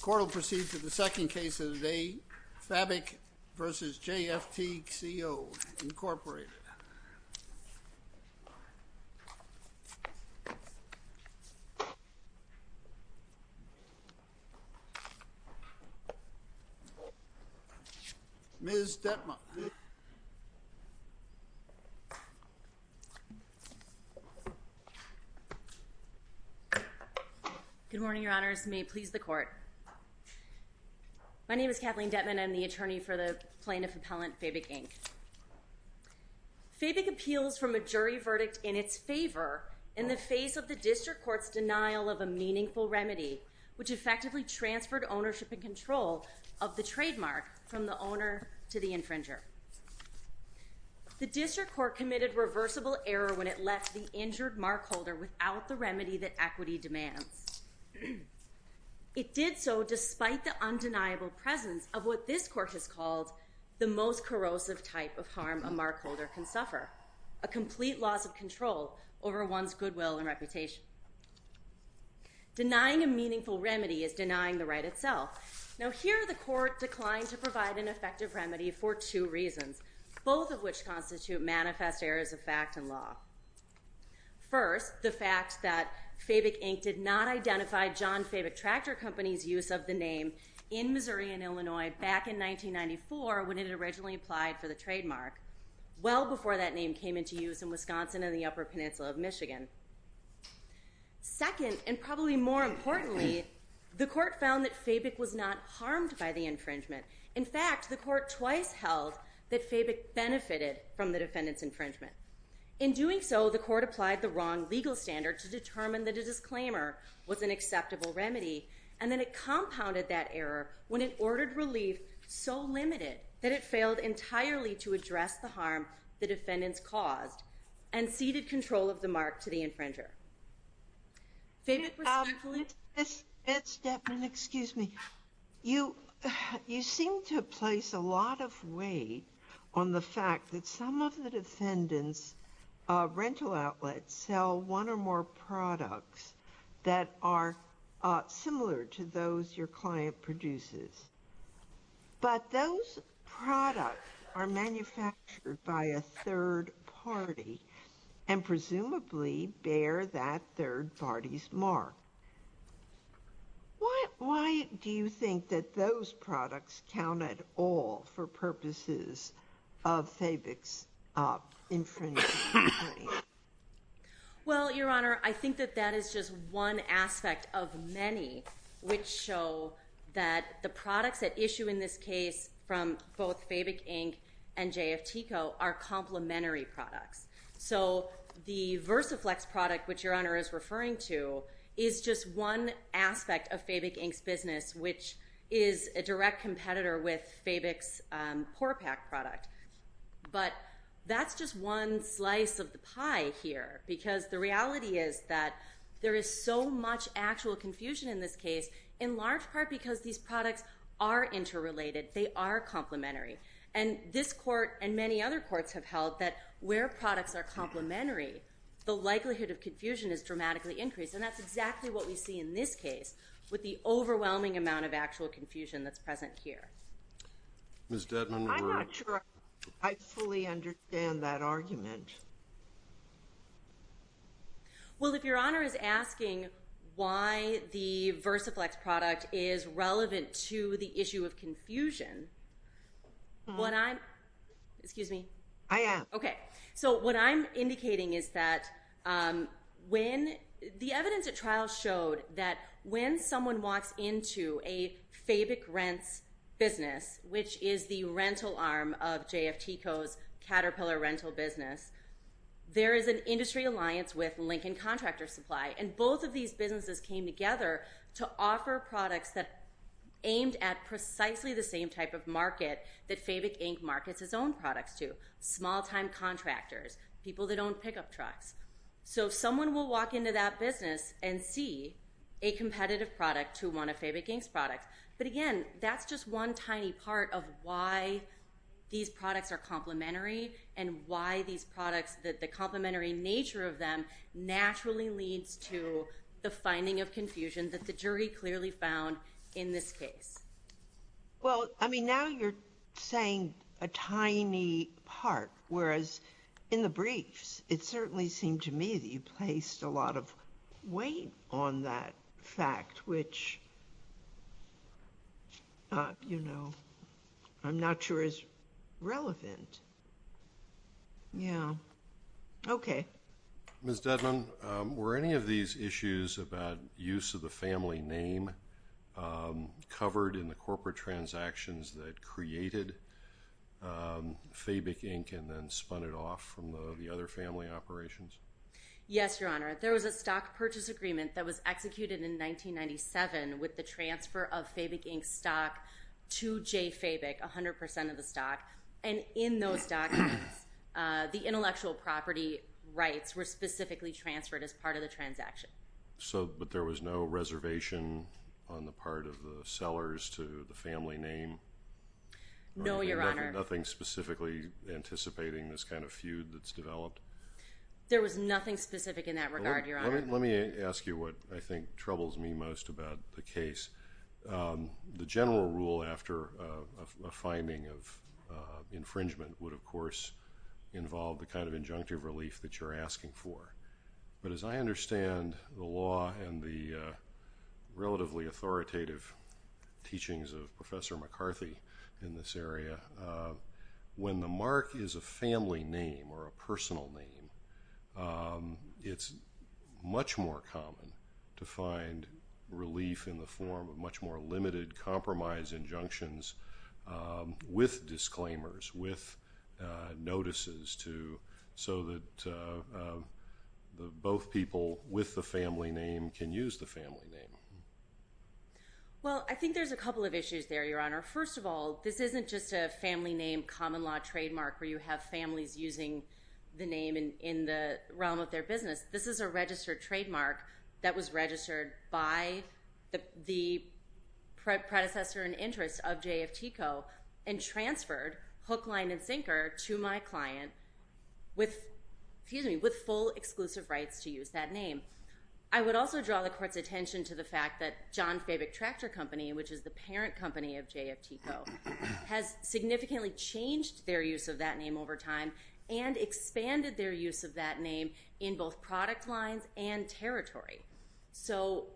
Court will proceed to the second case of the day, Fabick v. JFTCO, Inc. Ms. Dettmer. Good morning, Your Honors. May it please the Court. My name is Kathleen Dettmer, and I'm the attorney for the plaintiff appellant, Fabick, Inc. Fabick appeals from a jury verdict in its favor in the face of the District Court's denial of a meaningful remedy, which effectively transferred ownership and control of the trademark from the owner to the infringer. The District Court committed reversible error when it left the injured markholder without the remedy that equity demands. It did so despite the undeniable presence of what this Court has called the most corrosive type of harm a markholder can suffer, a complete loss of control over one's goodwill and reputation. Denying a meaningful remedy is denying the right itself. Here, the Court declined to provide an effective remedy for two reasons, both of which constitute manifest errors of fact and law. First, the fact that Fabick, Inc. did not identify John Fabick Tractor Company's use of the name in Missouri and Illinois back in 1994 when it originally applied for the trademark, well before that name came into use in Wisconsin and the Upper Peninsula of Michigan. Second, and probably more importantly, the Court found that Fabick was not harmed by the infringement. In fact, the Court twice held that Fabick benefited from the defendant's infringement. In doing so, the Court applied the wrong legal standard to determine that a disclaimer was an acceptable remedy, and then it compounded that error when it ordered relief so limited that it failed entirely to address the harm the defendants caused and ceded control of the mark to the infringer. Fabick was not harmed by the infringement. Why do you think that those products count at all for purposes of Fabick's infringement? Well, Your Honor, I think that that is just one aspect of many which show that the products that issue in this case from both Fabick, Inc. and JFTCO are complementary products. So the Versaflex product, which Your Honor is referring to, is just one aspect of Fabick, Inc.'s business, which is a direct competitor with Fabick's Pore Pack product. But that's just one slice of the pie here, because the reality is that there is so much actual confusion in this case, in large part because these products are interrelated. They are complementary. And this Court and many other courts have held that where products are complementary, the likelihood of confusion is dramatically increased. And that's exactly what we see in this case with the overwhelming amount of actual confusion that's present here. I'm not sure I fully understand that argument. Well, if Your Honor is asking why the Versaflex product is relevant to the issue of confusion, what I'm indicating is that the evidence at trial showed that when someone walks into a Fabick Rents business, which is the rental arm of JFTCO's Caterpillar Rental business, there is an industry alliance with Lincoln Contractor Supply. And both of these businesses came together to offer products that aimed at precisely the same type of market that Fabick, Inc. markets its own products to. Small-time contractors, people that own pickup trucks. So if someone will walk into that business and see a competitive product to one of Fabick, Inc.'s products. But again, that's just one tiny part of why these products are complementary and why these products are relevant. Because the complementary nature of them naturally leads to the finding of confusion that the jury clearly found in this case. Well, I mean, now you're saying a tiny part. Whereas in the briefs, it certainly seemed to me that you placed a lot of weight on that fact, which, you know, I'm not sure is relevant. Yeah. Okay. Ms. Dedman, were any of these issues about use of the family name covered in the corporate transactions that created Fabick, Inc. and then spun it off from the other family operations? Yes, Your Honor. There was a stock purchase agreement that was executed in 1997 with the transfer of Fabick, Inc.'s stock to J. Fabick, 100 percent of the stock. In those documents, the intellectual property rights were specifically transferred as part of the transaction. But there was no reservation on the part of the sellers to the family name? No, Your Honor. Nothing specifically anticipating this kind of feud that's developed? Let me ask you what I think troubles me most about the case. The general rule after a finding of infringement would, of course, involve the kind of injunctive relief that you're asking for. But as I understand the law and the relatively authoritative teachings of Professor McCarthy in this area, when the mark is a family name or a personal name, it's not a family name. It's much more common to find relief in the form of much more limited compromise injunctions with disclaimers, with notices, so that both people with the family name can use the family name. Well, I think there's a couple of issues there, Your Honor. First of all, this isn't just a family name common law trademark where you have families using the name in the realm of their business. This is a registered trademark that was registered by the predecessor in interest of J. F. Tico and transferred, hook, line, and sinker, to my client with full exclusive rights to use that name. I would also draw the Court's attention to the fact that John Fabick Tractor Company, which is the parent company of J. F. Tico, has significantly changed their use of that name over time and expanded their use of that name in both product lines and territory. So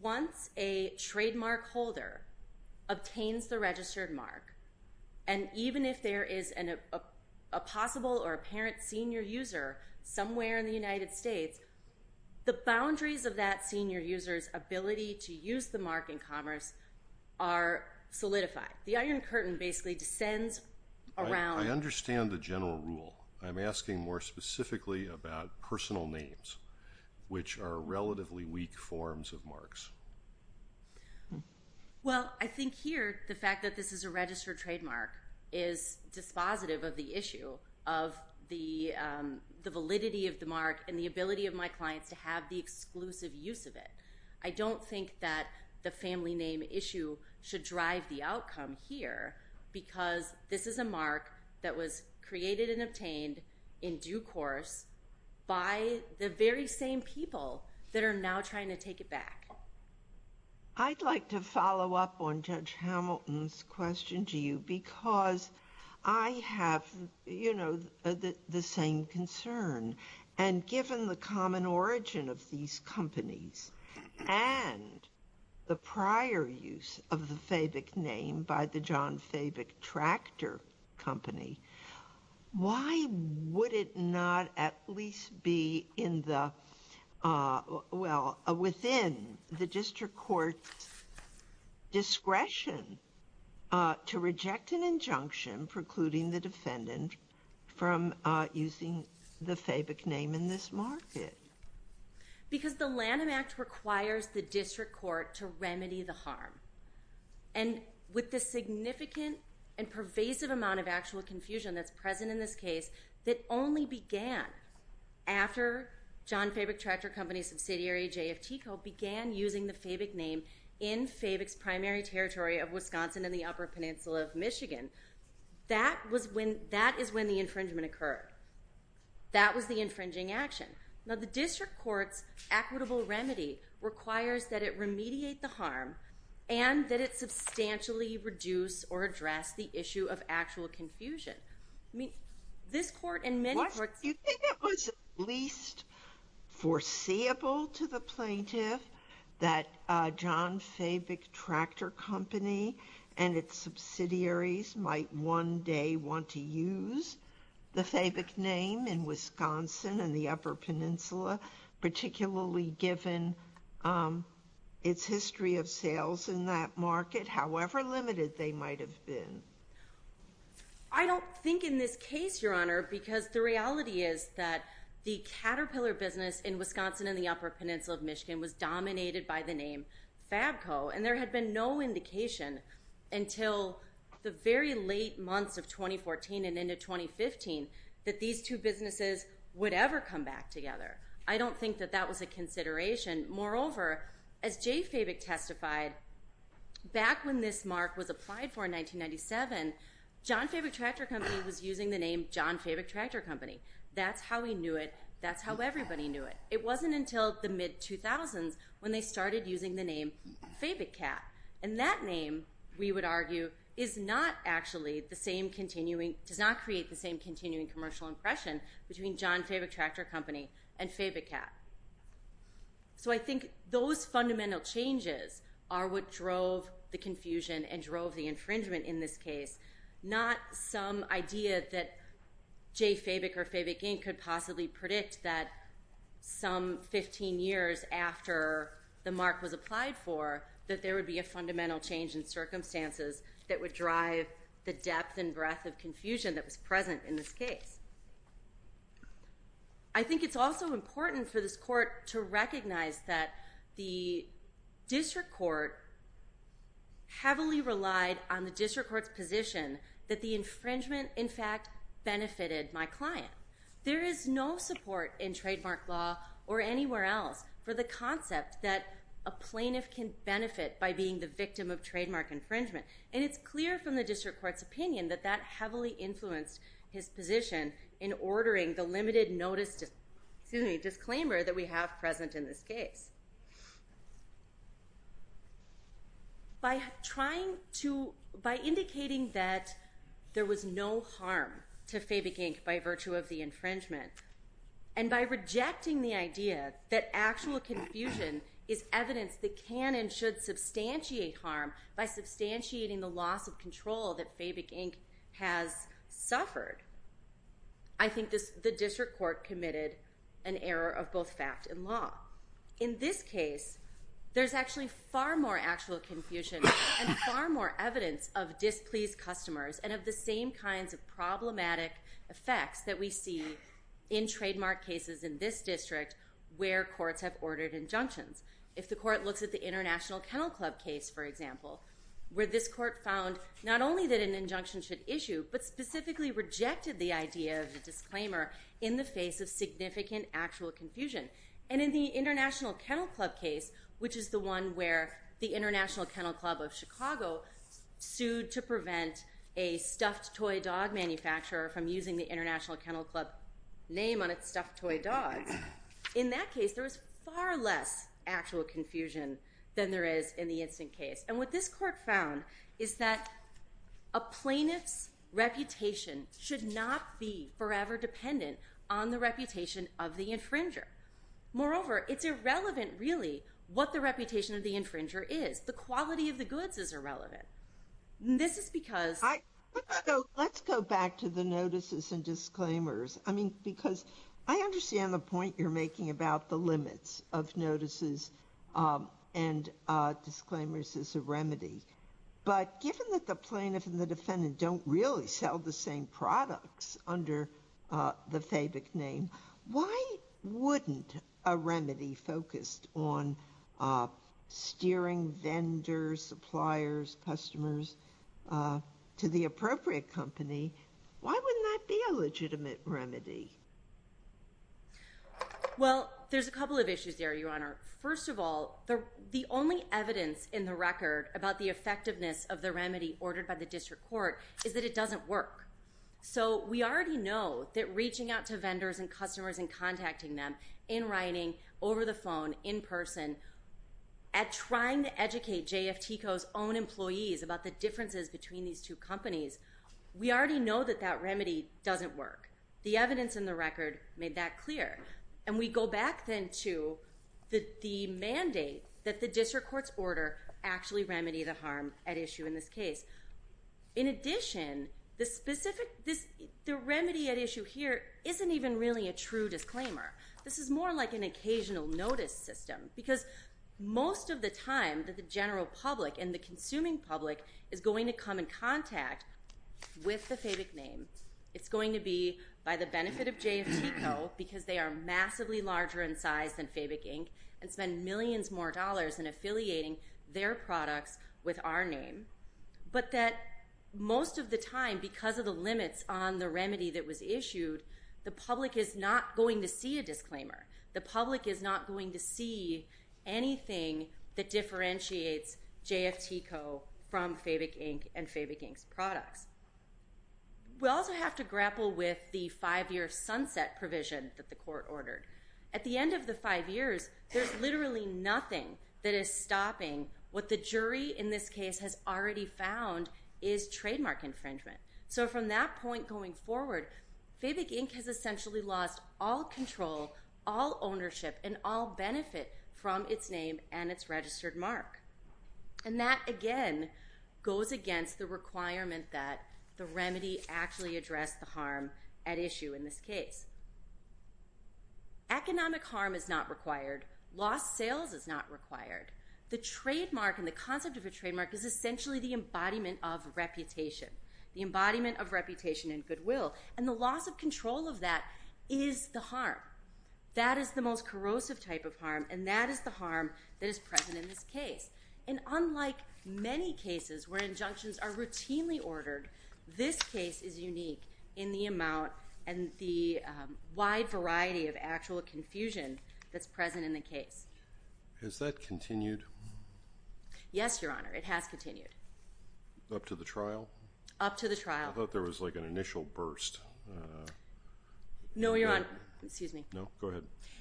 once a trademark holder obtains the registered mark, and even if there is a possible or apparent senior user somewhere in the United States, the boundaries of that senior user's ability to use the mark in commerce are solidified. The Iron Curtain basically descends around— Well, I think here the fact that this is a registered trademark is dispositive of the issue of the validity of the mark and the ability of my clients to have the exclusive use of it. I don't think that the family name issue should drive the outcome here because this is a mark that was created and obtained in due course by the very same people that are now trying to take it back. I'd like to follow up on Judge Hamilton's question to you because I have the same concern. And given the common origin of these companies and the prior use of the Fabick name by the John Fabick Tractor Company, why would it not at least be within the district court's discretion to reject an injunction precluding the defendant from using the Fabick mark? Because the Lanham Act requires the district court to remedy the harm. And with the significant and pervasive amount of actual confusion that's present in this case that only began after John Fabick Tractor Company's subsidiary, JFTCO, began using the Fabick name in Fabick's primary territory of Wisconsin and the Upper Peninsula of Michigan, that is when the infringement occurred. That was the infringing action. Now, the district court's equitable remedy requires that it remediate the harm and that it substantially reduce or address the issue of actual confusion. I mean, this court and many courts... Do you think it was at least foreseeable to the plaintiff that John Fabick Tractor Company and its subsidiaries might one day want to use the Fabick name? In Wisconsin and the Upper Peninsula, particularly given its history of sales in that market, however limited they might have been? I don't think in this case, Your Honor, because the reality is that the Caterpillar business in Wisconsin and the Upper Peninsula of Michigan was dominated by the name Fabco. And there had been no indication until the very late months of 2014 and into 2015 that these companies were going to use the Fabick name. These two businesses would ever come back together. I don't think that that was a consideration. Moreover, as J. Fabick testified, back when this mark was applied for in 1997, John Fabick Tractor Company was using the name John Fabick Tractor Company. That's how we knew it. That's how everybody knew it. It wasn't until the mid-2000s when they started using the name Fabickat. And that name, we would argue, is not actually the same continuing... Does not create the same continuing commercial impression between John Fabick Tractor Company and Fabickkat. So I think those fundamental changes are what drove the confusion and drove the infringement in this case, not some idea that J. Fabick or Fabick, Inc. could possibly predict that some of the companies would be using the name John Fabick Tractor Company. I think it was some 15 years after the mark was applied for that there would be a fundamental change in circumstances that would drive the depth and breadth of confusion that was present in this case. I think it's also important for this court to recognize that the district court heavily relied on the district court's position that the infringement in fact benefited my client. There is no support in trademark law or anywhere else for the concept that a plaintiff can benefit by being the victim of trademark infringement. And it's clear from the district court's opinion that that heavily influenced his position in ordering the limited notice disclaimer that we have present in this case. By trying to, by indicating that there was no harm to Fabick, Inc. by virtue of the infringement, and by rejecting the idea that actual confusion is evidence that can and should substantiate harm by substantiating the loss of control that Fabick, Inc. has suffered, I think the district court committed an error of both fact and law. In this case, there's actually far more actual confusion and far more evidence of displeased customers and of the same kinds of problematic effects that we see in trademark cases in this district where courts have ordered injunctions. If the court looks at the International Kennel Club case, for example, where this court found not only that an injunction should issue, but specifically rejected the idea of the disclaimer in the face of significant actual confusion. And in the International Kennel Club case, which is the one where the International Kennel Club of Chicago sued to prevent a stuffed toy dog manufacturer from using the International Kennel Club name on its stuffed toy dogs, in that case there was far less actual confusion than there is in the instant case. And what this court found is that a plaintiff's reputation should not be forever dependent on the reputation of the infringer. Moreover, it's irrelevant really what the reputation of the infringer is. The quality of the goods is irrelevant. This is because... Let's go back to the notices and disclaimers. I mean, because I understand the point you're making about the limits of notices and disclaimers as a remedy. But given that the plaintiff and the defendant don't really sell the same products under the FABIC name, why wouldn't a remedy focused on steering vendors, suppliers, customers to the appropriate company, why wouldn't that be a legitimate remedy? Well, there's a couple of issues there, Your Honor. First of all, the only evidence in the record about the effectiveness of the remedy ordered by the district court is that it doesn't work. So we already know that reaching out to vendors and customers and contacting them, in writing, over the phone, in person, at trying to educate JFTCO's own employees about the differences between these two companies, we already know that that remedy doesn't work. The evidence in the record made that clear. And we go back then to the mandate that the district court's order actually remedy the harm at issue in this case. In addition, the remedy at issue here isn't even really a true disclaimer. This is more like an occasional notice system, because most of the time the general public and the consuming public is going to come in contact with the FABIC name. It's going to be by the benefit of JFTCO, because they are massively larger in size than FABIC, and spend millions more dollars in affiliating their products with our name. But that most of the time, because of the limits on the remedy that was issued, the public is not going to see a JFTCO from FABIC Inc. and FABIC Inc.'s products. We also have to grapple with the five-year sunset provision that the court ordered. At the end of the five years, there's literally nothing that is stopping what the jury in this case has already found is trademark infringement. So from that point going forward, FABIC Inc. has essentially lost all control, all ownership, and all benefit from its name and its registered mark. And that, again, goes against the requirement that the remedy actually address the harm at issue in this case. Economic harm is not required. Lost sales is not required. The concept of a trademark is essentially the embodiment of reputation, the embodiment of reputation and goodwill, and the loss of control of that is the harm. That is the most corrosive type of harm, and that is the harm that is present in this case. And unlike many cases where injunctions are routinely ordered, this case is unique in the amount and the wide variety of actual confusion that's present in the case. Has that continued? Yes, Your Honor. It has continued. Up to the trial? Up to the trial. I thought there was like an initial burst. No, Your Honor. Excuse me. No, go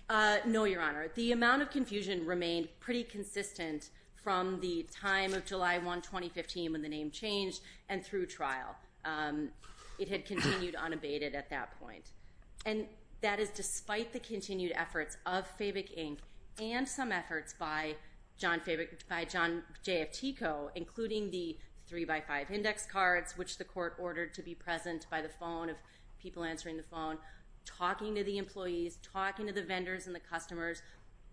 ahead. No, Your Honor. The amount of confusion remained pretty consistent from the time of July 1, 2015 when the name changed and through trial. It had continued unabated at that point. And that is despite the continued efforts of FABIC, Inc., and some efforts by John J.F. Tico, including the 3x5 index cards, which the court ordered to be present by the phone of people answering the phone, talking to the employees, talking to the vendors and the customers.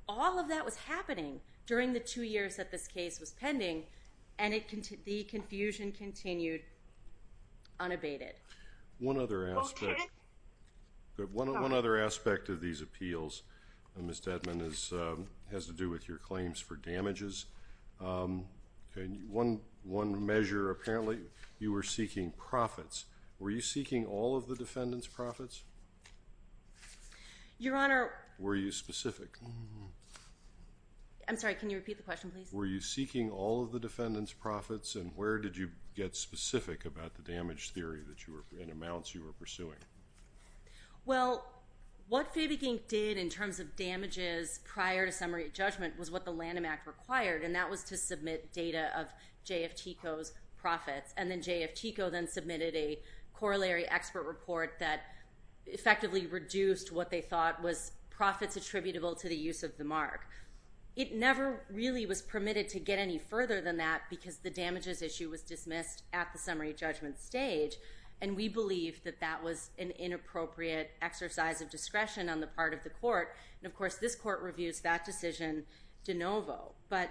All of that was happening during the two years that this case was pending, and the confusion continued unabated. One other aspect of these appeals, Ms. Dedman, has to do with your claims for damages. One measure, apparently you were seeking profits. Were you seeking all of the defendants' profits? Your Honor. Were you specific? I'm sorry. Can you repeat the question, please? Were you seeking all of the defendants' profits, and where did you get specific about the damage theory and amounts you were pursuing? Well, what FABIC, Inc. did in terms of damages prior to summary judgment was what the Lanham Act required, and that was to submit data of J.F. Tico's profits. And then J.F. Tico then submitted a corollary expert report that effectively reduced what they thought was profits attributable to the use of the mark. It never really was permitted to get any further than that because the damages issue was dismissed at the summary judgment stage, and we believe that that was an inappropriate exercise of discretion on the part of the court. And, of course, this court reviews that decision de novo. But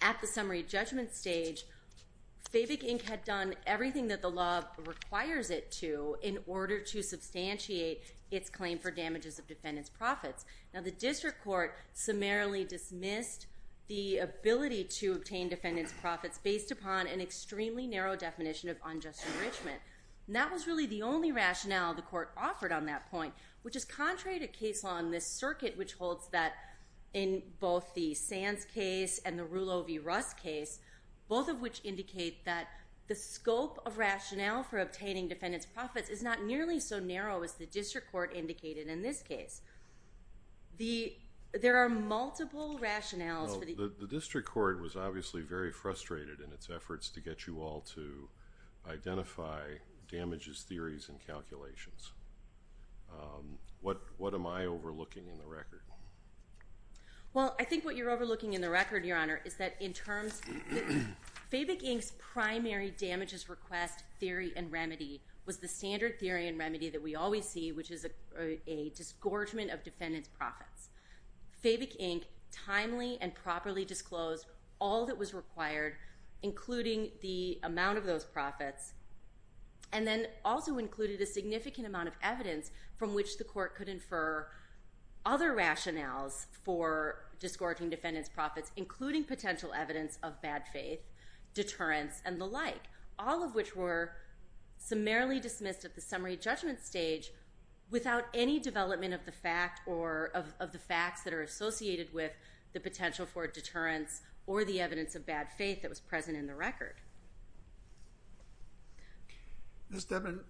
at the summary judgment stage, FABIC, Inc. had done everything that the law requires it to in order to substantiate its claim for damages of defendants' profits. Now, the district court summarily dismissed the ability to obtain defendants' profits based upon an extremely narrow definition of unjust enrichment. And that was really the only rationale the court offered on that point, which is contrary to case law in this circuit, which holds that in both the Sands case and the Rulo v. Russ case, both of which indicate that the scope of rationale for obtaining defendants' profits is not nearly so narrow as the district court indicated in this case. There are multiple rationales for the- The district court was obviously very frustrated in its efforts to get you all to identify damages theories and calculations. What am I overlooking in the record? Well, I think what you're overlooking in the record, Your Honor, is that in terms- FABIC, Inc.'s primary damages request theory and remedy was the standard theory and remedy that we always see, which is a disgorgement of defendants' profits. FABIC, Inc. timely and properly disclosed all that was required, including the amount of those profits, and then also included a significant amount of evidence from which the court could infer other rationales for disgorging defendants' profits, including potential evidence of bad faith, deterrence, and the like, all of which were summarily dismissed at the summary judgment stage without any development of the fact or of the facts that are associated with the potential for deterrence or the evidence of bad faith that was present in the record. Ms. Devon,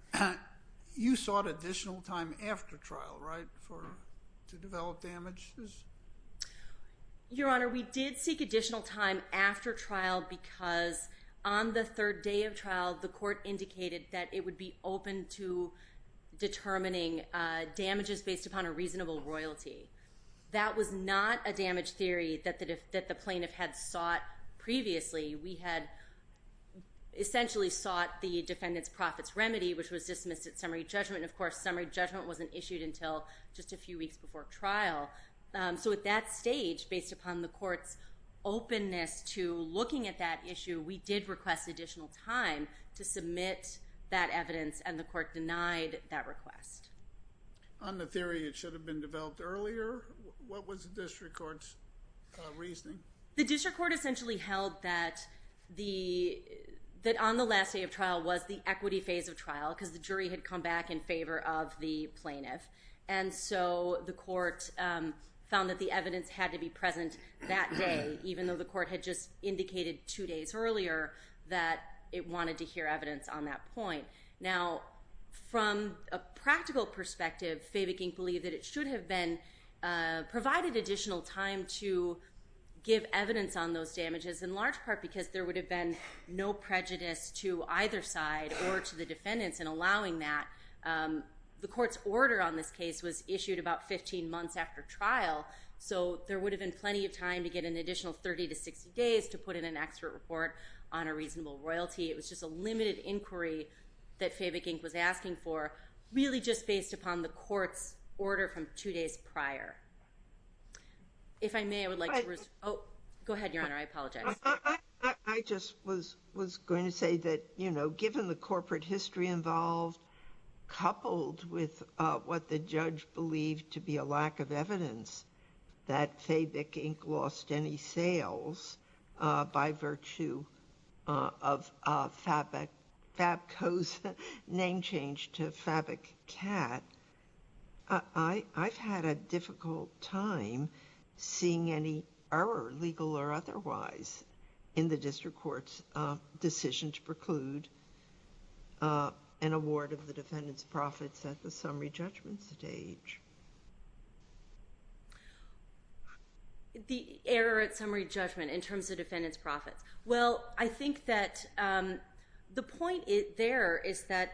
you sought additional time after trial, right, for- to develop damages? Your Honor, we did seek additional time after trial because on the third day of trial, the court indicated that it would be open to determining damages based upon a reasonable royalty. That was not a damage theory that the plaintiff had sought previously. We had essentially sought the defendant's profits remedy, which was dismissed at summary judgment, and of course summary judgment wasn't issued until just a few weeks before trial. So at that stage, based upon the court's openness to looking at that issue, we did request additional time to submit that evidence, and the court denied that request. On the theory it should have been developed earlier, what was the district court's reasoning? The district court essentially held that the- that on the last day of trial was the equity phase of trial because the jury had come back in favor of the plaintiff. And so the court found that the evidence had to be present that day, even though the court had just indicated two days earlier that it wanted to hear evidence on that point. Now, from a practical perspective, Favikink believed that it should have been- provided additional time to give evidence on those damages, in large part because there would have been no prejudice to either side or to the defendants in allowing that. The court's order on this case was issued about 15 months after trial, so there would have been plenty of time to get an additional 30 to 60 days to put in an expert report on a reasonable royalty. It was just a limited inquiry that Favikink was asking for, really just based upon the court's order from two days prior. If I may, I would like to- Oh, go ahead, Your Honor, I apologize. I just was going to say that, you know, given the corporate history involved, coupled with what the judge believed to be a lack of evidence, that Favikink lost any sales by virtue of Fabco's name change to Fabicat, I've had a difficult time seeing any error, legal or otherwise, in the district court's decision to preclude an award of the defendant's profits at the summary judgment stage. The error at summary judgment in terms of defendants' profits. Well, I think that the point there is that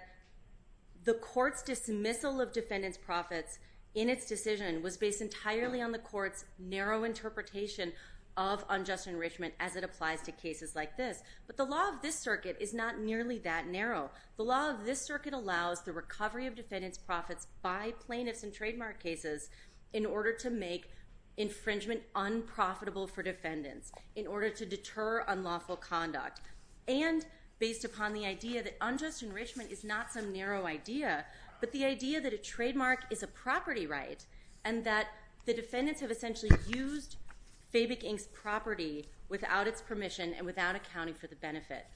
the court's dismissal of defendants' profits in its decision was based entirely on the court's narrow interpretation of unjust enrichment as it applies to cases like this. But the law of this circuit is not nearly that narrow. by plaintiffs in trademark cases in order to make infringement unprofitable for defendants, in order to deter unlawful conduct, and based upon the idea that unjust enrichment is not some narrow idea, but the idea that a trademark is a property right and that the defendants have essentially used Favikink's property without its permission and without accounting for the benefit.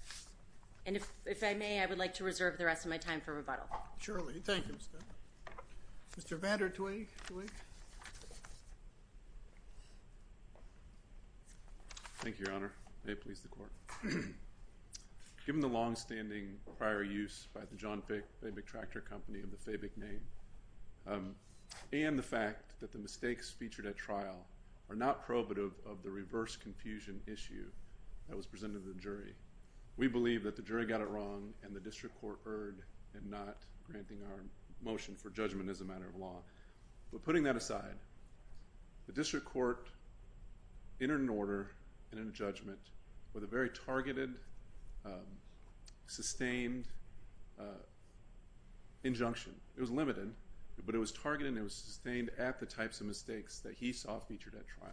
Surely. Thank you. Mr. Vatter-Tweak. Thank you, Your Honor. May it please the court. Given the long-standing prior use by the John Favik Tractor Company of the Favik name, and the fact that the mistakes featured at trial are not prohibitive of the reverse confusion issue we believe that the jury got it wrong and the district court erred in not granting our motion for judgment as a matter of law. But putting that aside, the district court entered an order and a judgment with a very targeted, sustained injunction. It was limited, but it was targeted and it was sustained at the types of mistakes that he saw featured at trial.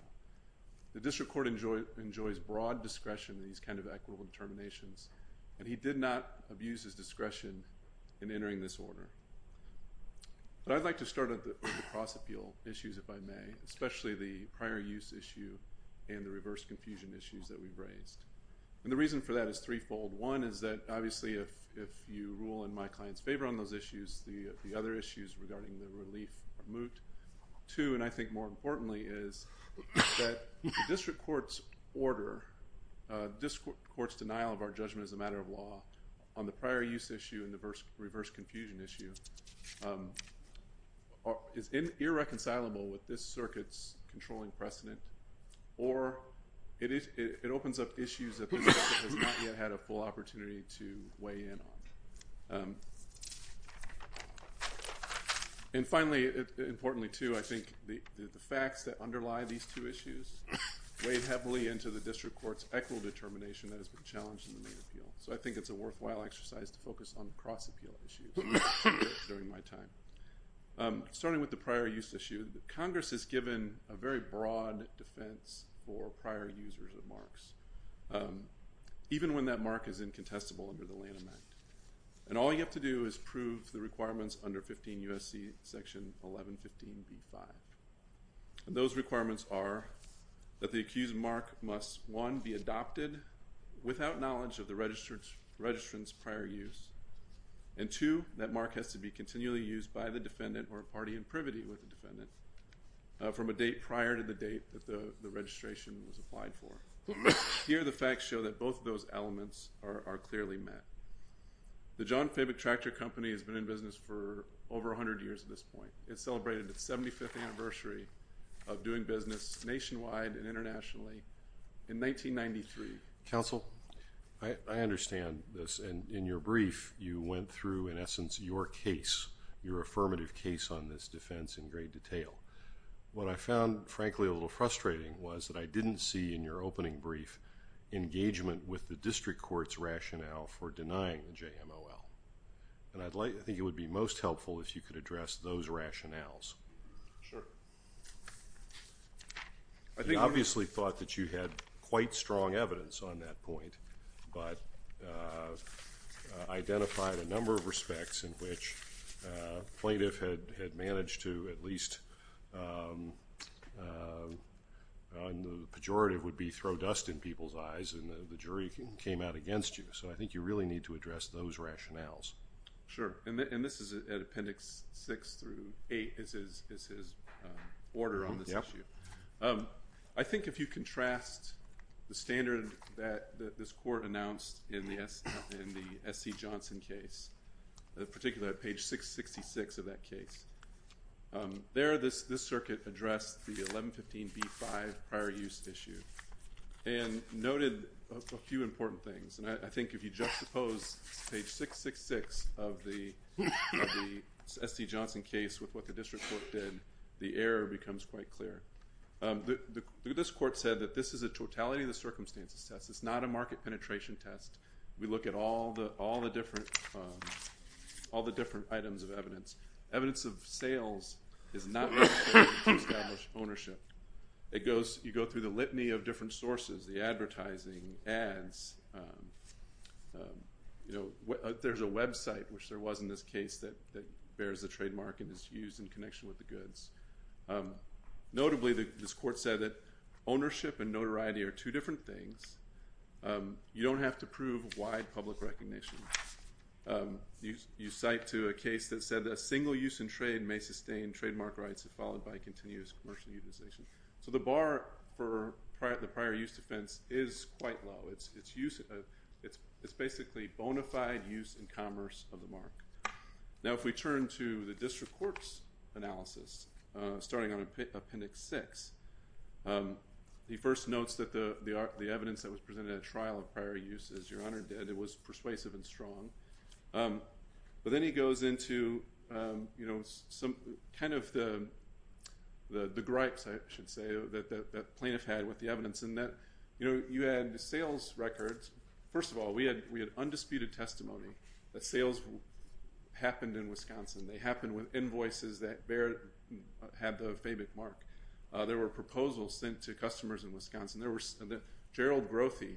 The district court enjoys broad discretion in these kind of equitable determinations, and he did not abuse his discretion in entering this order. But I'd like to start with the cross-appeal issues, if I may, especially the prior use issue and the reverse confusion issues that we've raised. And the reason for that is threefold. One is that, obviously, if you rule in my client's favor on those issues, the other issues regarding the relief are moot. Two, and I think more importantly, is that the district court's order, this court's denial of our judgment as a matter of law on the prior use issue and the reverse confusion issue is irreconcilable with this circuit's controlling precedent or it opens up issues that the district has not yet had a full opportunity to weigh in on. And finally, importantly too, I think the facts that underlie these two issues weigh heavily into the district court's equitable determination that has been challenged in the main appeal. So I think it's a worthwhile exercise to focus on cross-appeal issues during my time. Starting with the prior use issue, Congress has given a very broad defense for prior users of marks, even when that mark is incontestable under the Lanham Act. And all you have to do is prove the requirements under 15 U.S.C. Section 1115b-5. And those requirements are that the accused mark must, one, be adopted without knowledge of the registrant's prior use, and two, that mark has to be continually used by the defendant or a party in privity with the defendant from a date prior to the date that the registration was applied for. Here, the facts show that both of those elements are clearly met. The John Faber Tractor Company has been in business for over 100 years at this point. It celebrated its 75th anniversary of doing business nationwide and internationally in 1993. Counsel? I understand this, and in your brief, you went through, in essence, your case, your affirmative case on this defense in great detail. What I found, frankly, a little frustrating was that I didn't see in your opening brief engagement with the district court's rationale for denying the JMOL. And I think it would be most helpful if you could address those rationales. Sure. You obviously thought that you had quite strong evidence on that point but identified a number of respects in which plaintiff had managed to at least on the pejorative would be throw dust in people's eyes and the jury came out against you. So I think you really need to address those rationales. Sure. And this is at Appendix 6 through 8 is his order on this issue. I think if you contrast the standard that this court announced in the S.C. Johnson case, particularly at page 666 of that case, there this circuit addressed the 1115B-5 prior use issue and noted a few important things. And I think if you juxtapose page 666 of the S.C. Johnson case with what the district court did, the error becomes quite clear. This court said that this is a totality of the circumstances test. It's not a market penetration test. We look at all the different items of evidence. Evidence of sales is not necessary to establish ownership. There's a website, which there was in this case, that bears a trademark and is used in connection with the goods. Notably, this court said that ownership and notoriety are two different things. You don't have to prove wide public recognition. You cite to a case that said a single use in trade may sustain trademark rights if followed by continuous commercial utilization. So the bar for the prior use defense is quite low. It's basically bona fide use in commerce of the mark. Now if we turn to the district court's analysis, starting on Appendix 6, he first notes that the evidence that was presented at trial of prior use is your honor dead. It was persuasive and strong. But then he goes into kind of the gripes, I should say, that the plaintiff had with the evidence. You had sales records. First of all, we had undisputed testimony that sales happened in Wisconsin. They happened with invoices that had the FABIC mark. There were proposals sent to customers in Wisconsin. Gerald Grothy,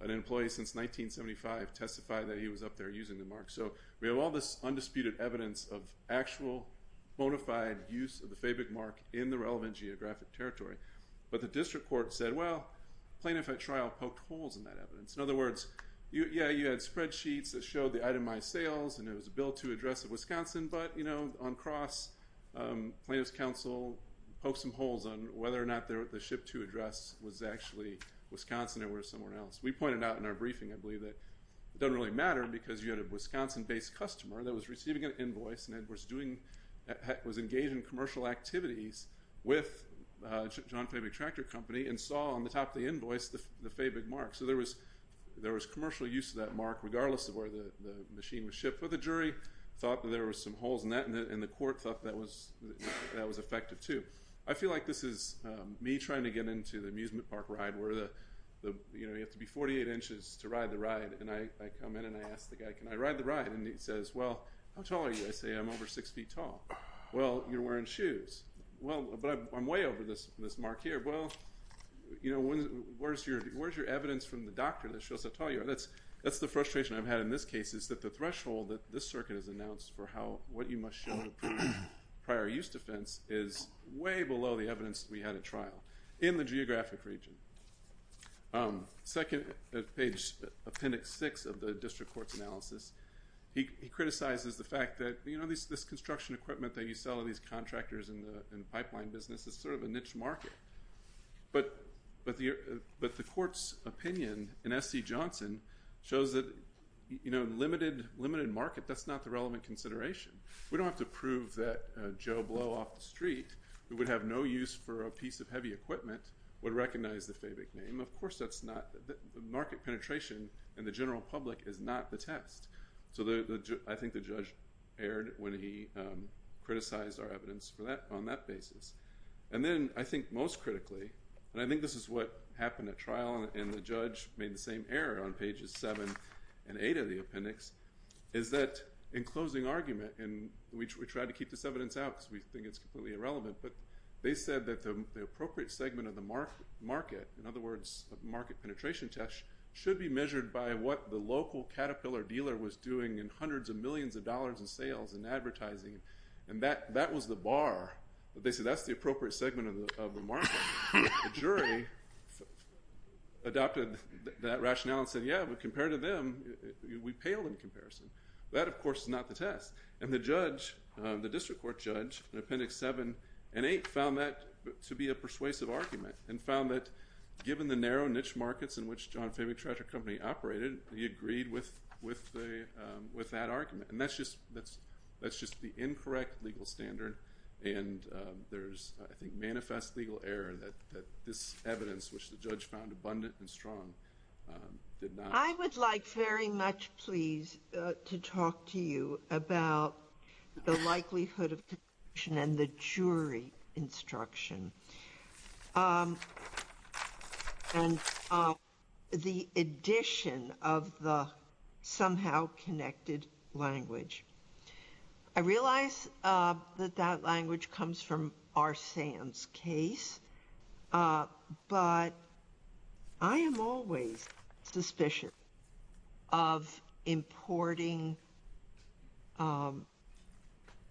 an employee since 1975, testified that he was up there using the mark. So we have all this undisputed evidence of actual bona fide use of the FABIC mark in the relevant geographic territory. But the district court said, well, plaintiff at trial poked holes in that evidence. In other words, yeah, you had spreadsheets that showed the itemized sales and it was a Bill 2 address of Wisconsin, but, you know, on cross, plaintiff's counsel poked some holes on whether or not the SHIP 2 address was actually Wisconsin or it was somewhere else. We pointed out in our briefing, I believe, that it doesn't really matter because you had a Wisconsin-based customer that was receiving an invoice and was engaged in commercial activities with John FABIC Tractor Company and saw on the top of the invoice the FABIC mark. So there was commercial use of that mark regardless of where the machine was shipped for the jury, thought that there were some holes in that, and the court thought that was effective too. I feel like this is me trying to get into the amusement park ride where you have to be 48 inches to ride the ride, and I come in and I ask the guy, can I ride the ride? And he says, well, how tall are you? I say, I'm over 6 feet tall. Well, you're wearing shoes. Well, but I'm way over this mark here. Well, you know, where's your evidence from the doctor that shows how tall you are? That's the frustration I've had in this case is that the threshold that this circuit has announced for what you must show to prove prior use defense is way below the evidence we had at trial in the geographic region. Second, page appendix 6 of the district court's analysis, he criticizes the fact that, you know, this construction equipment that you sell to these contractors in the pipeline business is sort of a niche market. But the court's opinion in S.C. Johnson shows that, you know, limited market, that's not the relevant consideration. We don't have to prove that Joe Blow off the street who would have no use for a piece of heavy equipment would recognize the FABIC name. Of course that's not the market penetration in the general public is not the test. So I think the judge erred when he criticized our evidence on that basis. And then I think most critically, and I think this is what happened at trial, and the judge made the same error on pages 7 and 8 of the appendix, is that in closing argument, and we tried to keep this evidence out because we think it's completely irrelevant, but they said that the appropriate segment of the market, in other words, market penetration test, should be measured by what the local Caterpillar dealer was doing in hundreds of millions of dollars in sales and advertising. And that was the bar. They said that's the appropriate segment of the market. The jury adopted that rationale and said, yeah, but compared to them, we paled in comparison. That, of course, is not the test. And the judge, the district court judge, in appendix 7 and 8, found that to be a persuasive argument and found that given the narrow niche markets in which John Fabry Tractor Company operated, he agreed with that argument. And that's just the incorrect legal standard, and there's, I think, manifest legal error that this evidence, which the judge found abundant and strong, did not. I would like very much, please, to talk to you about the likelihood of conviction and the jury instruction and the addition of the somehow connected language. I realize that that language comes from R. Sand's case, but I am always suspicious of importing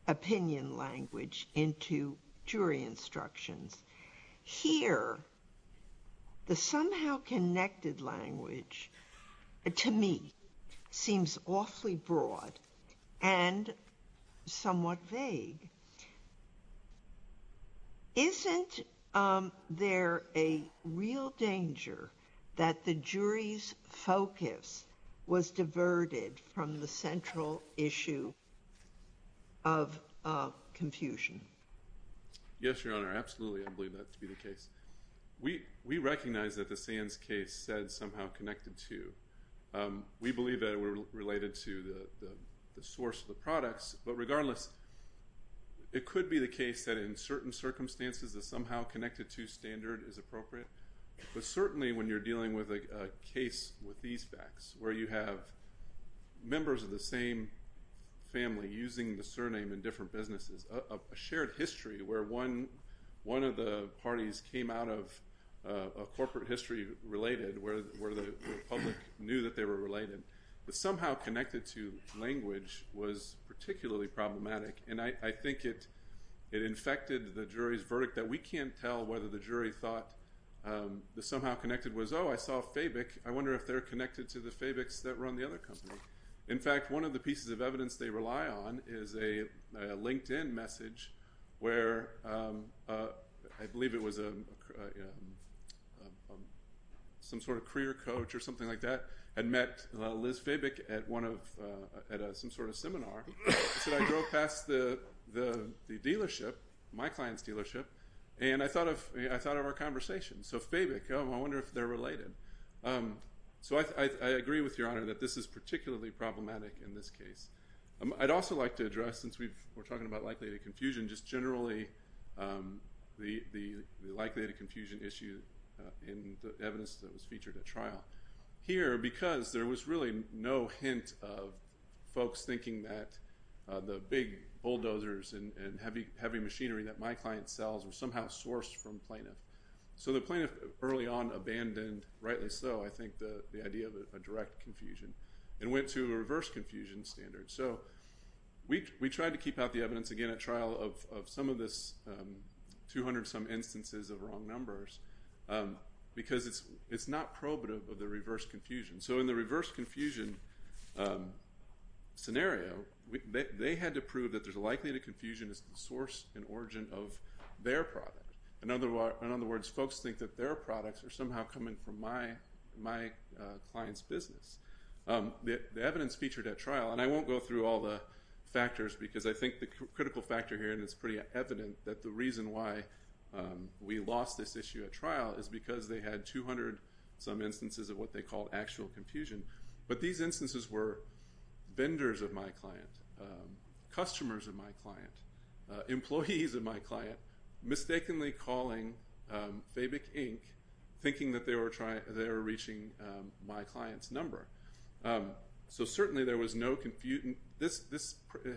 opinion language into jury instructions. Here, the somehow connected language, to me, seems awfully broad and somewhat vague. Isn't there a real danger that the jury's focus was diverted from the central issue of confusion? Yes, Your Honor, absolutely, I believe that to be the case. We recognize that the Sands case said somehow connected to. We believe that it was related to the source of the products, but regardless, it could be the case that in certain circumstances the somehow connected to standard is appropriate. But certainly when you're dealing with a case with these facts, where you have members of the same family using the surname in different businesses, a shared history where one of the parties came out of a corporate history related, where the public knew that they were related, the somehow connected to language was particularly problematic, and I think it infected the jury's verdict that we can't tell whether the jury thought the somehow connected was, oh, I saw Fabic, I wonder if they're connected to the Fabics that run the other company. In fact, one of the pieces of evidence they rely on is a LinkedIn message where I believe it was some sort of career coach or something like that had met Liz Fabic at some sort of seminar. She said, I drove past the dealership, my client's dealership, and I thought of our conversation. So Fabic, oh, I wonder if they're related. So I agree with Your Honor that this is particularly problematic in this case. I'd also like to address, since we're talking about likelihood of confusion, just generally the likelihood of confusion issue in the evidence that was featured at trial. Here, because there was really no hint of folks thinking that the big bulldozers and heavy machinery that my client sells were somehow sourced from plaintiff. So the plaintiff early on abandoned, rightly so, I think, the idea of a direct confusion and went to a reverse confusion standard. So we tried to keep out the evidence, again, at trial of some of this 200-some instances of wrong numbers because it's not probative of the reverse confusion. So in the reverse confusion scenario, they had to prove that the likelihood of confusion is the source and origin of their product. In other words, folks think that their products are somehow coming from my client's business. The evidence featured at trial, and I won't go through all the factors because I think the critical factor here, and it's pretty evident, that the reason why we lost this issue at trial is because they had 200-some instances of what they called actual confusion. But these instances were vendors of my client, customers of my client, employees of my client, mistakenly calling Fabic Inc. thinking that they were reaching my client's number. So certainly there was no confusion. This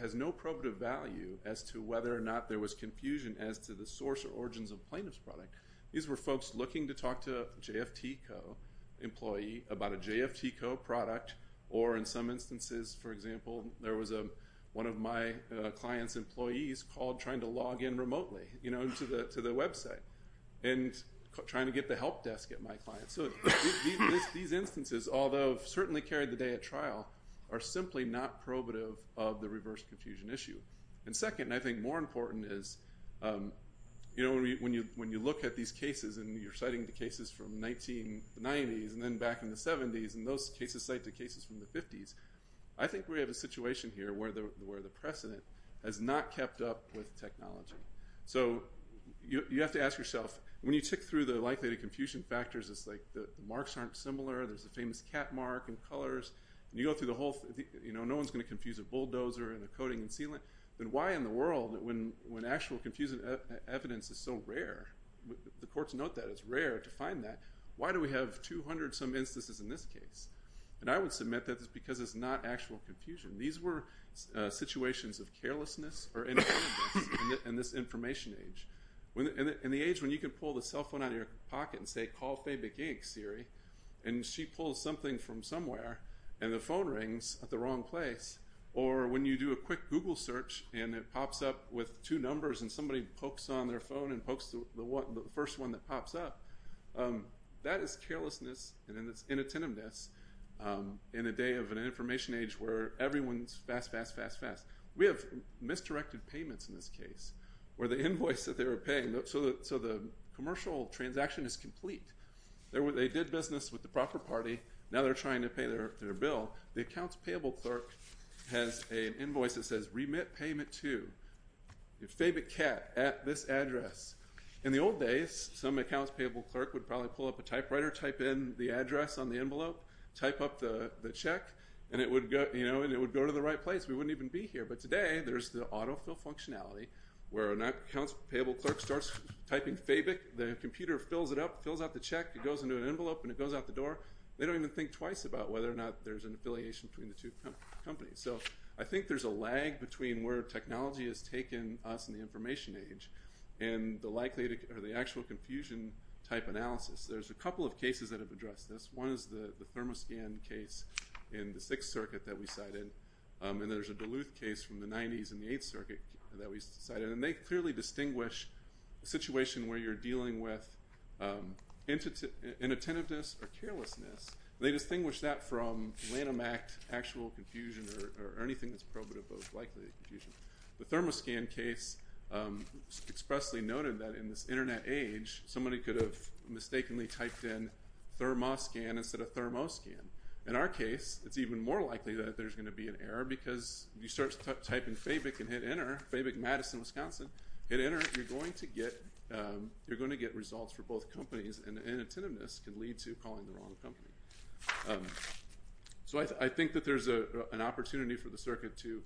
has no probative value as to whether or not there was confusion as to the source or origins of a plaintiff's product. These were folks looking to talk to a JFTCO employee about a JFTCO product or in some instances, for example, there was one of my client's employees called trying to log in remotely to the website and trying to get the help desk at my client. So these instances, although certainly carried the day at trial, are simply not probative of the reverse confusion issue. And second, and I think more important, is when you look at these cases and you're citing the cases from the 1990s and then back in the 70s, and those cases cite the cases from the 50s, I think we have a situation here where the precedent has not kept up with technology. So you have to ask yourself, when you tick through the likelihood of confusion factors, it's like the marks aren't similar, there's a famous cat mark in colors, and you go through the whole thing, no one's going to confuse a bulldozer and a coating and sealant. Then why in the world, when actual confusing evidence is so rare, the courts note that it's rare to find that, why do we have 200-some instances in this case? And I would submit that it's because it's not actual confusion. These were situations of carelessness or inattentiveness in this information age. In the age when you can pull the cell phone out of your pocket and say, call Faye McGink, Siri, and she pulls something from somewhere and the phone rings at the wrong place, or when you do a quick Google search and it pops up with two numbers and somebody pokes on their phone and pokes the first one that pops up, that is carelessness and inattentiveness in a day of an information age where everyone's fast, fast, fast, fast. We have misdirected payments in this case where the invoice that they were paying, so the commercial transaction is complete. They did business with the proper party, now they're trying to pay their bill. The accounts payable clerk has an invoice that says, remit payment to Faye McCat at this address. In the old days, some accounts payable clerk would probably pull up a typewriter, type in the address on the envelope, type up the check, and it would go to the right place. We wouldn't even be here, but today there's the autofill functionality where an accounts payable clerk starts typing Faye Mc, the computer fills it up, fills out the check, it goes into an envelope and it goes out the door. They don't even think twice about whether or not there's an affiliation between the two companies. So I think there's a lag between where technology has taken us in the information age and the actual confusion type analysis. There's a couple of cases that have addressed this. One is the Thermoscan case in the Sixth Circuit that we cited, and there's a Duluth case from the 90s in the Eighth Circuit that we cited, and they clearly distinguish a situation where you're dealing with inattentiveness or carelessness, they distinguish that from Lanham Act actual confusion or anything that's probative of likely confusion. The Thermoscan case expressly noted that in this Internet age, somebody could have mistakenly typed in thermoscan instead of thermoscan. In our case, it's even more likely that there's going to be an error because if you start typing Faye Mc and hit enter, Faye Mc, Madison, Wisconsin, hit enter, you're going to get results for both companies, and inattentiveness can lead to calling the wrong company. So I think that there's an opportunity for the circuit to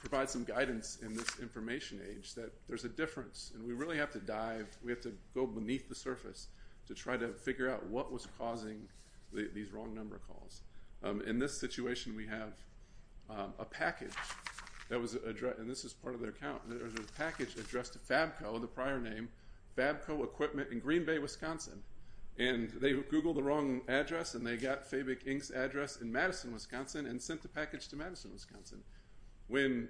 provide some guidance in this information age that there's a difference, and we really have to dive, we have to go beneath the surface to try to figure out what was causing these wrong number calls. In this situation, we have a package that was addressed, and this is part of their account, there was a package addressed to Fabco, the prior name, Fabco Equipment in Green Bay, Wisconsin, and they Googled the wrong address, and they got Faye Mc, Inc.'s address in Madison, Wisconsin, and sent the package to Madison, Wisconsin. When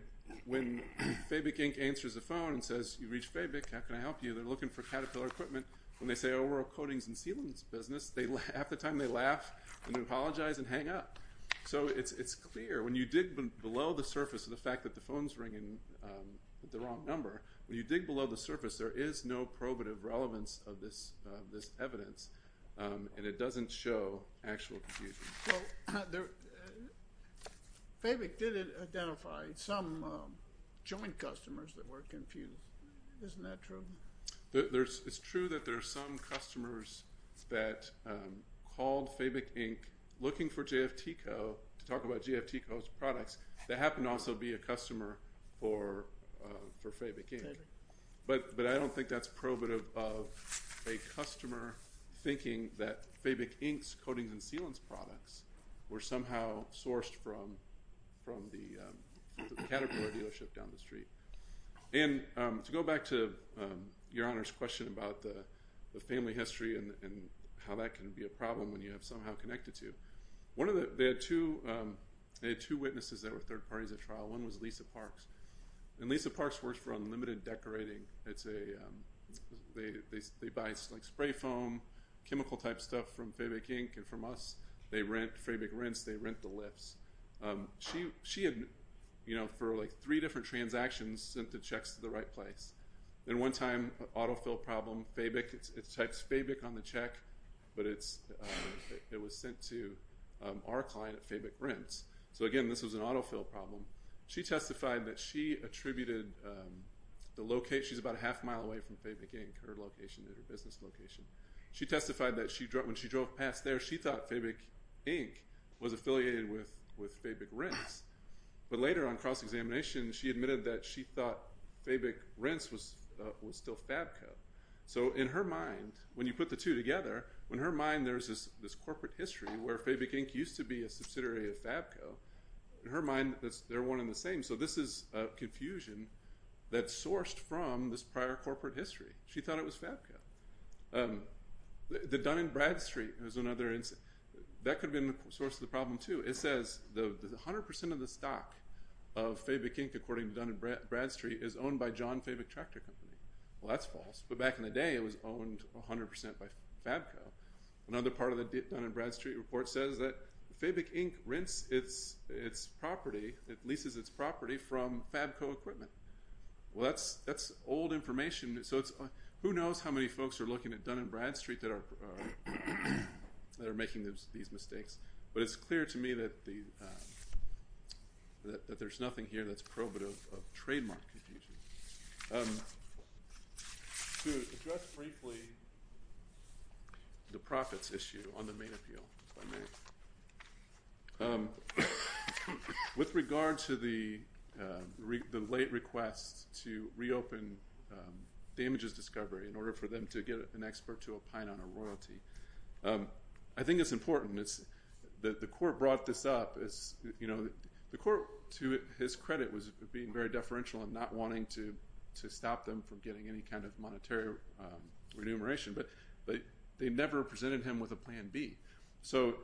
Faye Mc, Inc. answers the phone and says, you've reached Faye Mc, how can I help you? They're looking for Caterpillar Equipment. When they say, oh, we're a coatings and sealants business, half the time they laugh and apologize and hang up. So it's clear, when you dig below the surface of the fact that the phone's ringing with the wrong number, when you dig below the surface, there is no probative relevance of this evidence, and it doesn't show actual confusion. So Faye Mc did identify some joint customers that were confused. Isn't that true? It's true that there are some customers that called Faye Mc, Inc., looking for JFTCO to talk about JFTCO's products, that happened to also be a customer for Faye Mc, Inc. But I don't think that's probative of a customer thinking that Faye Mc, Inc.'s coatings and sealants products were somehow sourced from the Caterpillar dealership down the street. And to go back to Your Honor's question about the family history and how that can be a problem when you have somehow connected to, they had two witnesses that were third parties at trial. One was Lisa Parks. And Lisa Parks works for Unlimited Decorating. They buy spray foam, chemical-type stuff from Faye Mc, Inc. and from us. They rent Faye Mc, Rents. They rent the lifts. She had, for like three different transactions, sent the checks to the right place. Then one time, autofill problem, Faye Mc, it types Faye Mc on the check, but it was sent to our client at Faye Mc, Rents. So, again, this was an autofill problem. She testified that she attributed the location, she's about a half mile away from Faye Mc, Inc., her location at her business location. She testified that when she drove past there, she thought Faye Mc, Inc. was affiliated with Faye Mc, Rents. But later on cross-examination, she admitted that she thought Faye Mc, Rents was still Fabco. So in her mind, when you put the two together, in her mind there's this corporate history where Faye Mc, Inc. used to be a subsidiary of Fabco. In her mind, they're one and the same. So this is confusion that's sourced from this prior corporate history. She thought it was Fabco. The Dun & Bradstreet is another instance. That could have been the source of the problem, too. It says 100% of the stock of Faye Mc, Inc., according to Dun & Bradstreet, is owned by John Faye Mc Tractor Company. Well, that's false. But back in the day, it was owned 100% by Fabco. Another part of the Dun & Bradstreet report says that it leases its property from Fabco Equipment. Well, that's old information. So who knows how many folks are looking at Dun & Bradstreet that are making these mistakes. But it's clear to me that there's nothing here that's probative of trademark confusion. To address briefly the profits issue on the main appeal, with regard to the late request to reopen damages discovery in order for them to get an expert to opine on a royalty, I think it's important that the court brought this up. The court, to his credit, was being very deferential and not wanting to stop them from getting any kind of monetary remuneration. But they never presented him with a Plan B. So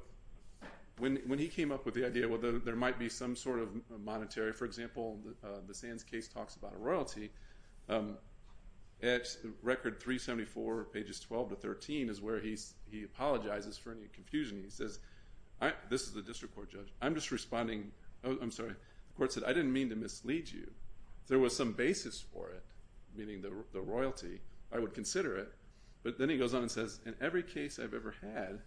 when he came up with the idea, well, there might be some sort of monetary. For example, the Sands case talks about a royalty. At Record 374, pages 12 to 13, is where he apologizes for any confusion. He says, this is a district court judge. I'm just responding. I'm sorry. The court said, I didn't mean to mislead you. If there was some basis for it, meaning the royalty, I would consider it. But then he goes on and says, in every case I've ever had,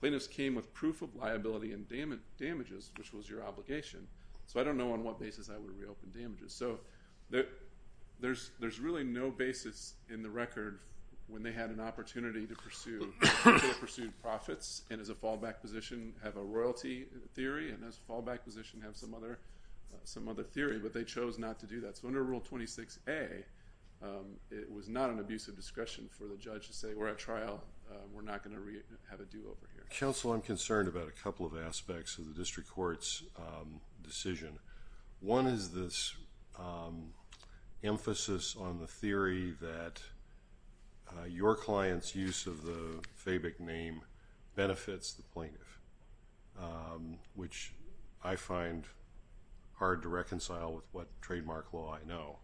plaintiffs came with proof of liability and damages, which was your obligation. So I don't know on what basis I would reopen damages. So there's really no basis in the record when they had an opportunity to pursue profits and as a fallback position have a royalty theory and as a fallback position have some other theory. But they chose not to do that. So under Rule 26A, it was not an abuse of discretion for the judge to say, we're at trial, we're not going to have a do-over here. Counsel, I'm concerned about a couple of aspects of the district court's decision. One is this emphasis on the theory that your client's use of the FABIC name benefits the plaintiff, which I find hard to reconcile with what trademark law I know.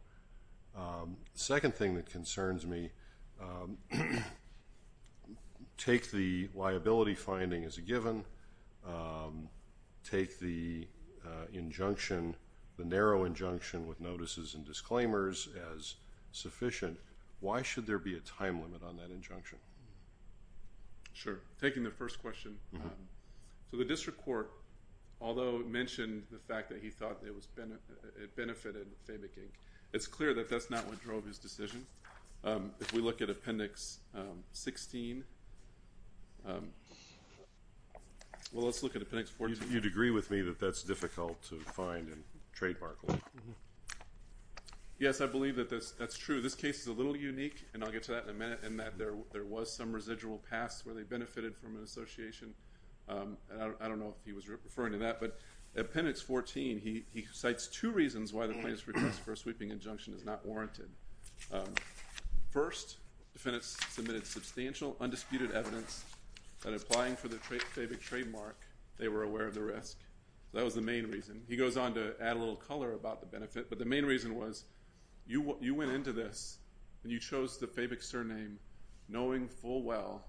The second thing that concerns me, take the liability finding as a given, take the injunction, the narrow injunction with notices and disclaimers as sufficient. Why should there be a time limit on that injunction? Sure. Taking the first question. So the district court, although it mentioned the fact that it benefited FABIC, it's clear that that's not what drove his decision. If we look at Appendix 16, well, let's look at Appendix 14. You'd agree with me that that's difficult to find in trademark law? Yes, I believe that that's true. This case is a little unique, and I'll get to that in a minute, in that there was some residual past where they benefited from an association. I don't know if he was referring to that. But Appendix 14, he cites two reasons why the plaintiff's request for a sweeping injunction is not warranted. First, defendants submitted substantial undisputed evidence that applying for the FABIC trademark, they were aware of the risk. That was the main reason. He goes on to add a little color about the benefit, but the main reason was you went into this and you chose the FABIC surname knowing full well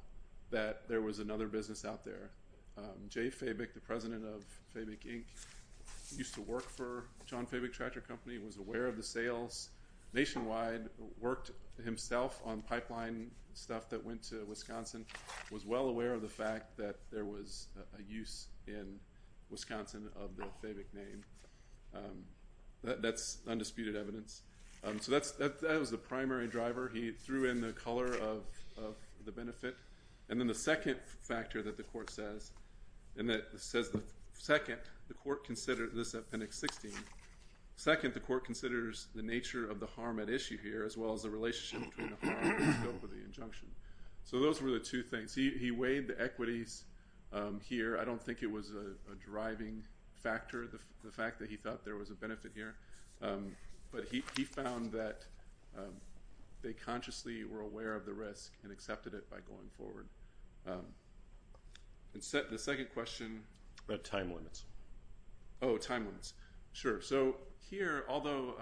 that there was another business out there. Jay FABIC, the president of FABIC, Inc., used to work for John FABIC Tractor Company, was aware of the sales nationwide, worked himself on pipeline stuff that went to Wisconsin, was well aware of the fact that there was a use in Wisconsin of the FABIC name. That's undisputed evidence. So that was the primary driver. He threw in the color of the benefit. And then the second factor that the court says, and that says the second, the court considered this at Appendix 16. Second, the court considers the nature of the harm at issue here, as well as the relationship between the harm and the scope of the injunction. So those were the two things. He weighed the equities here. I don't think it was a driving factor, the fact that he thought there was a benefit here. But he found that they consciously were aware of the risk and accepted it by going forward. The second question. Time limits. Oh, time limits. Sure. So here, although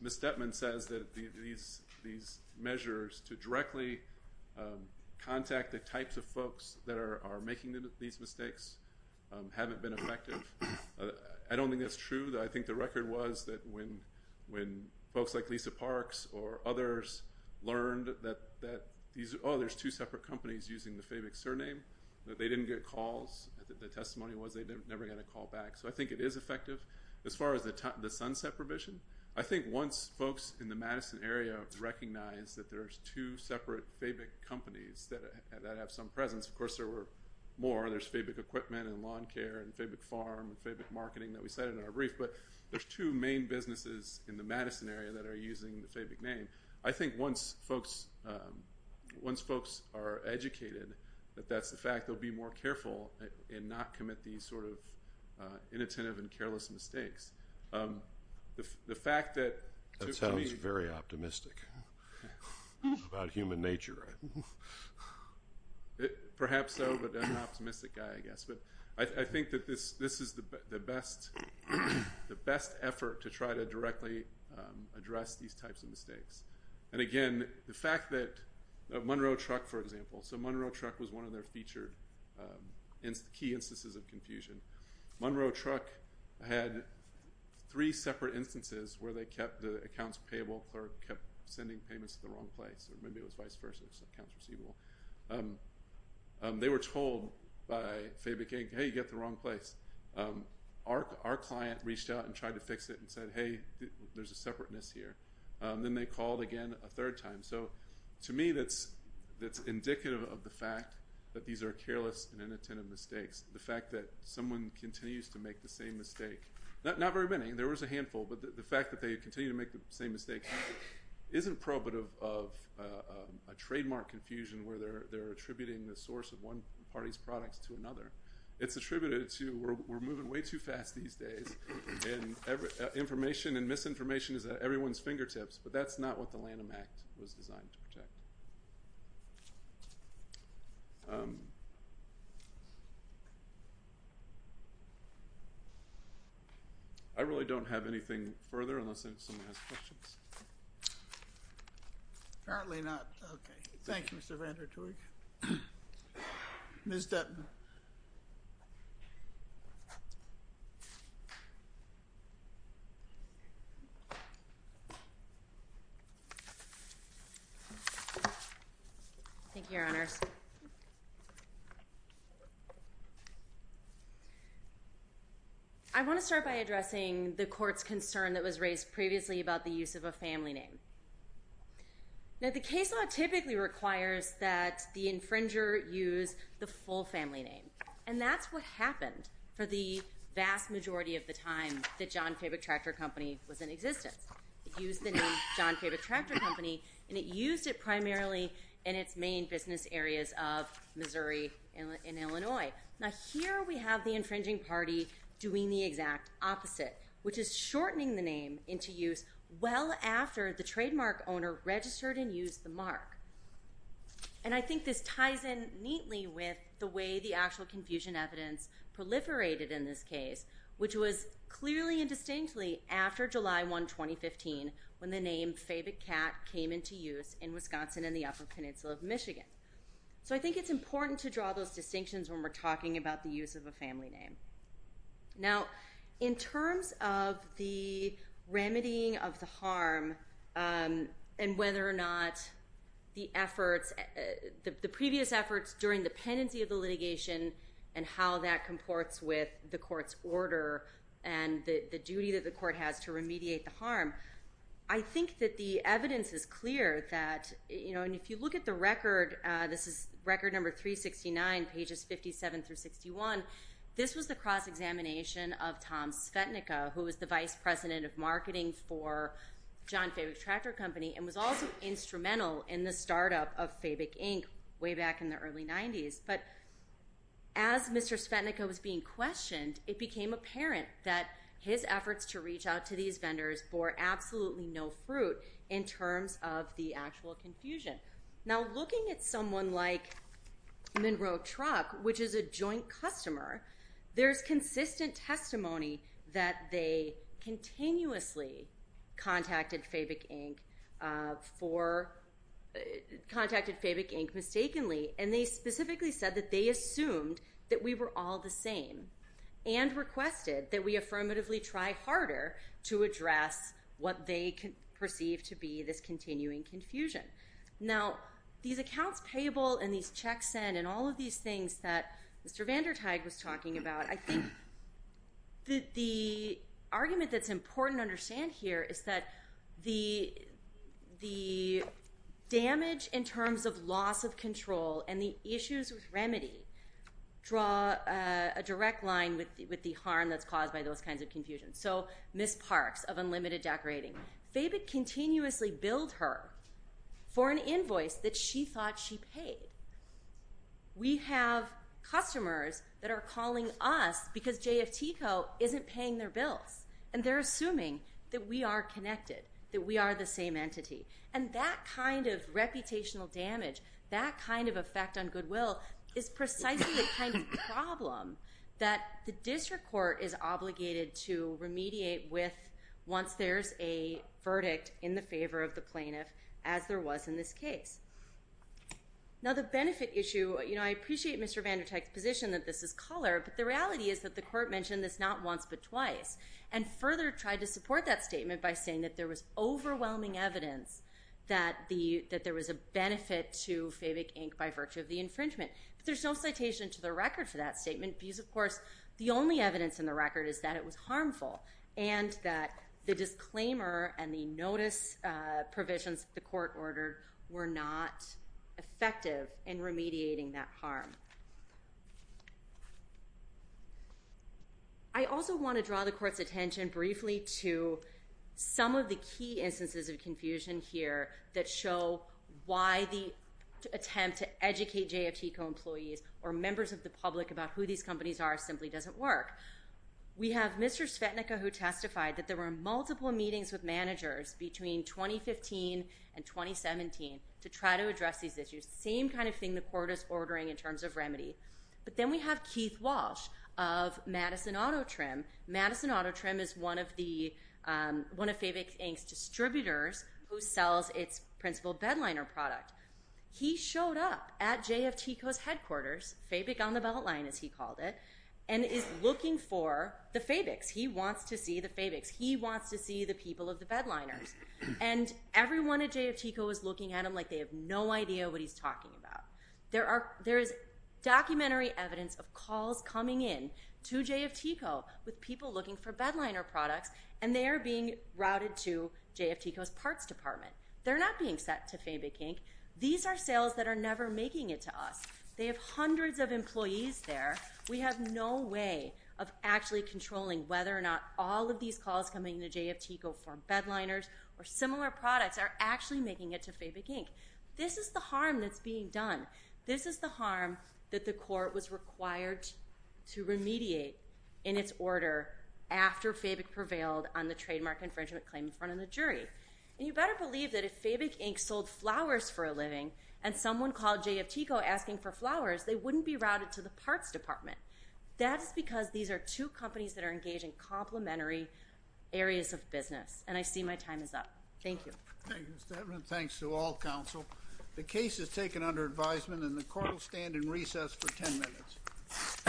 Ms. Detman says that these measures to directly contact the types of folks that are making these mistakes haven't been effective, I don't think that's true. I think the record was that when folks like Lisa Parks or others learned that, oh, there's two separate companies using the FABIC surname, that they didn't get calls. The testimony was they never got a call back. So I think it is effective. As far as the sunset provision, I think once folks in the Madison area recognize that there's two separate FABIC companies that have some presence, of course there were more. There's FABIC Equipment and Lawn Care and FABIC Farm and FABIC Marketing that we cited in our brief. But there's two main businesses in the Madison area that are using the FABIC name. I think once folks are educated that that's the fact, they'll be more careful and not commit these sort of inattentive and careless mistakes. That sounds very optimistic about human nature. Perhaps so, but I'm an optimistic guy, I guess. But I think that this is the best effort to try to directly address these types of mistakes. And again, the fact that Monroe Truck, for example, so Monroe Truck was one of their featured key instances of confusion. Monroe Truck had three separate instances where they kept the accounts payable or kept sending payments to the wrong place, or maybe it was vice versa, so accounts receivable. They were told by FABIC, hey, you got the wrong place. Our client reached out and tried to fix it and said, hey, there's a separateness here. Then they called again a third time. So to me, that's indicative of the fact that these are careless and inattentive mistakes. The fact that someone continues to make the same mistake, not very many, there was a handful, but the fact that they continue to make the same mistake isn't probative of a trademark confusion where they're attributing the source of one party's products to another. It's attributed to we're moving way too fast these days, and information and misinformation is at everyone's fingertips, but that's not what the Lanham Act was designed to protect. I really don't have anything further unless anyone has questions. Apparently not. Okay. Thank you, Mr. Van Der Toerik. Ms. Dutton. Thank you, Your Honors. First, I want to start by addressing the court's concern that was raised previously about the use of a family name. Now, the case law typically requires that the infringer use the full family name, and that's what happened for the vast majority of the time that John Fabic Tractor Company was in existence. It used the name John Fabic Tractor Company, and it used it primarily in its main business areas of Missouri and Illinois. Now, here we have the infringing party doing the exact opposite, which is shortening the name into use well after the trademark owner registered and used the mark, and I think this ties in neatly with the way the actual confusion evidence proliferated in this case, which was clearly and distinctly after July 1, 2015, when the name Fabic Cat came into use in Wisconsin and the Upper Peninsula of Michigan. So I think it's important to draw those distinctions when we're talking about the use of a family name. Now, in terms of the remedying of the harm and whether or not the efforts, the previous efforts during the pendency of the litigation and how that comports with the court's order and the duty that the court has to remediate the harm, I think that the evidence is clear that, you know, and if you look at the record, this is record number 369, pages 57 through 61, this was the cross-examination of Tom Svetnicka, who was the vice president of marketing for John Fabic Tractor Company and was also instrumental in the startup of Fabic Inc. way back in the early 90s. But as Mr. Svetnicka was being questioned, it became apparent that his efforts to reach out to these vendors bore absolutely no fruit in terms of the actual confusion. Now, looking at someone like Monroe Truck, which is a joint customer, there's consistent testimony that they continuously contacted Fabic Inc. for, contacted Fabic Inc. mistakenly, and they specifically said that they assumed that we were all the same and requested that we affirmatively try harder to address what they perceived to be this continuing confusion. Now, these accounts payable and these checks sent and all of these things that Mr. Vandertag was talking about, I think that the argument that's important to understand here is that the damage in terms of loss of control and the issues with remedy draw a direct line with the harm that's caused by those kinds of confusions. So Ms. Parks of Unlimited Decorating, Fabic continuously billed her for an invoice that she thought she paid. We have customers that are calling us because JFTCO isn't paying their bills, and they're assuming that we are connected, that we are the same entity. And that kind of reputational damage, that kind of effect on goodwill, is precisely the kind of problem that the district court is obligated to remediate with once there's a verdict in the favor of the plaintiff, as there was in this case. Now, the benefit issue, you know, I appreciate Mr. Vandertag's position that this is color, but the reality is that the court mentioned this not once but twice, and further tried to support that statement by saying that there was overwhelming evidence that there was a benefit to Fabic, Inc. by virtue of the infringement. But there's no citation to the record for that statement because, of course, the only evidence in the record is that it was harmful and that the disclaimer and the notice provisions the court ordered were not effective in remediating that harm. I also want to draw the court's attention briefly to some of the key instances of confusion here that show why the attempt to educate JFTCO employees or members of the public about who these companies are simply doesn't work. We have Mr. Svetnicka who testified that there were multiple meetings with managers between 2015 and 2017 to try to address these issues, same kind of thing the court is ordering in terms of remedy. But then we have Keith Walsh of Madison Auto Trim. Madison Auto Trim is one of Fabic, Inc.'s distributors who sells its principal bedliner product. He showed up at JFTCO's headquarters, Fabic on the Beltline as he called it, and is looking for the Fabics. He wants to see the Fabics. He wants to see the people of the bedliners. And everyone at JFTCO is looking at him like they have no idea what he's talking about. There is documentary evidence of calls coming in to JFTCO with people looking for bedliner products, and they are being routed to JFTCO's parts department. They're not being sent to Fabic, Inc. These are sales that are never making it to us. They have hundreds of employees there. We have no way of actually controlling whether or not all of these calls coming to JFTCO for bedliners or similar products are actually making it to Fabic, Inc. This is the harm that's being done. This is the harm that the court was required to remediate in its order after Fabic prevailed on the trademark infringement claim in front of the jury. And you better believe that if Fabic, Inc. sold flowers for a living and someone called JFTCO asking for flowers, they wouldn't be routed to the parts department. That's because these are two companies that are engaged in complementary areas of business, and I see my time is up. Thank you. Thank you, Mr. Edmund. Thanks to all counsel. The case is taken under advisement, and the court will stand in recess for 10 minutes.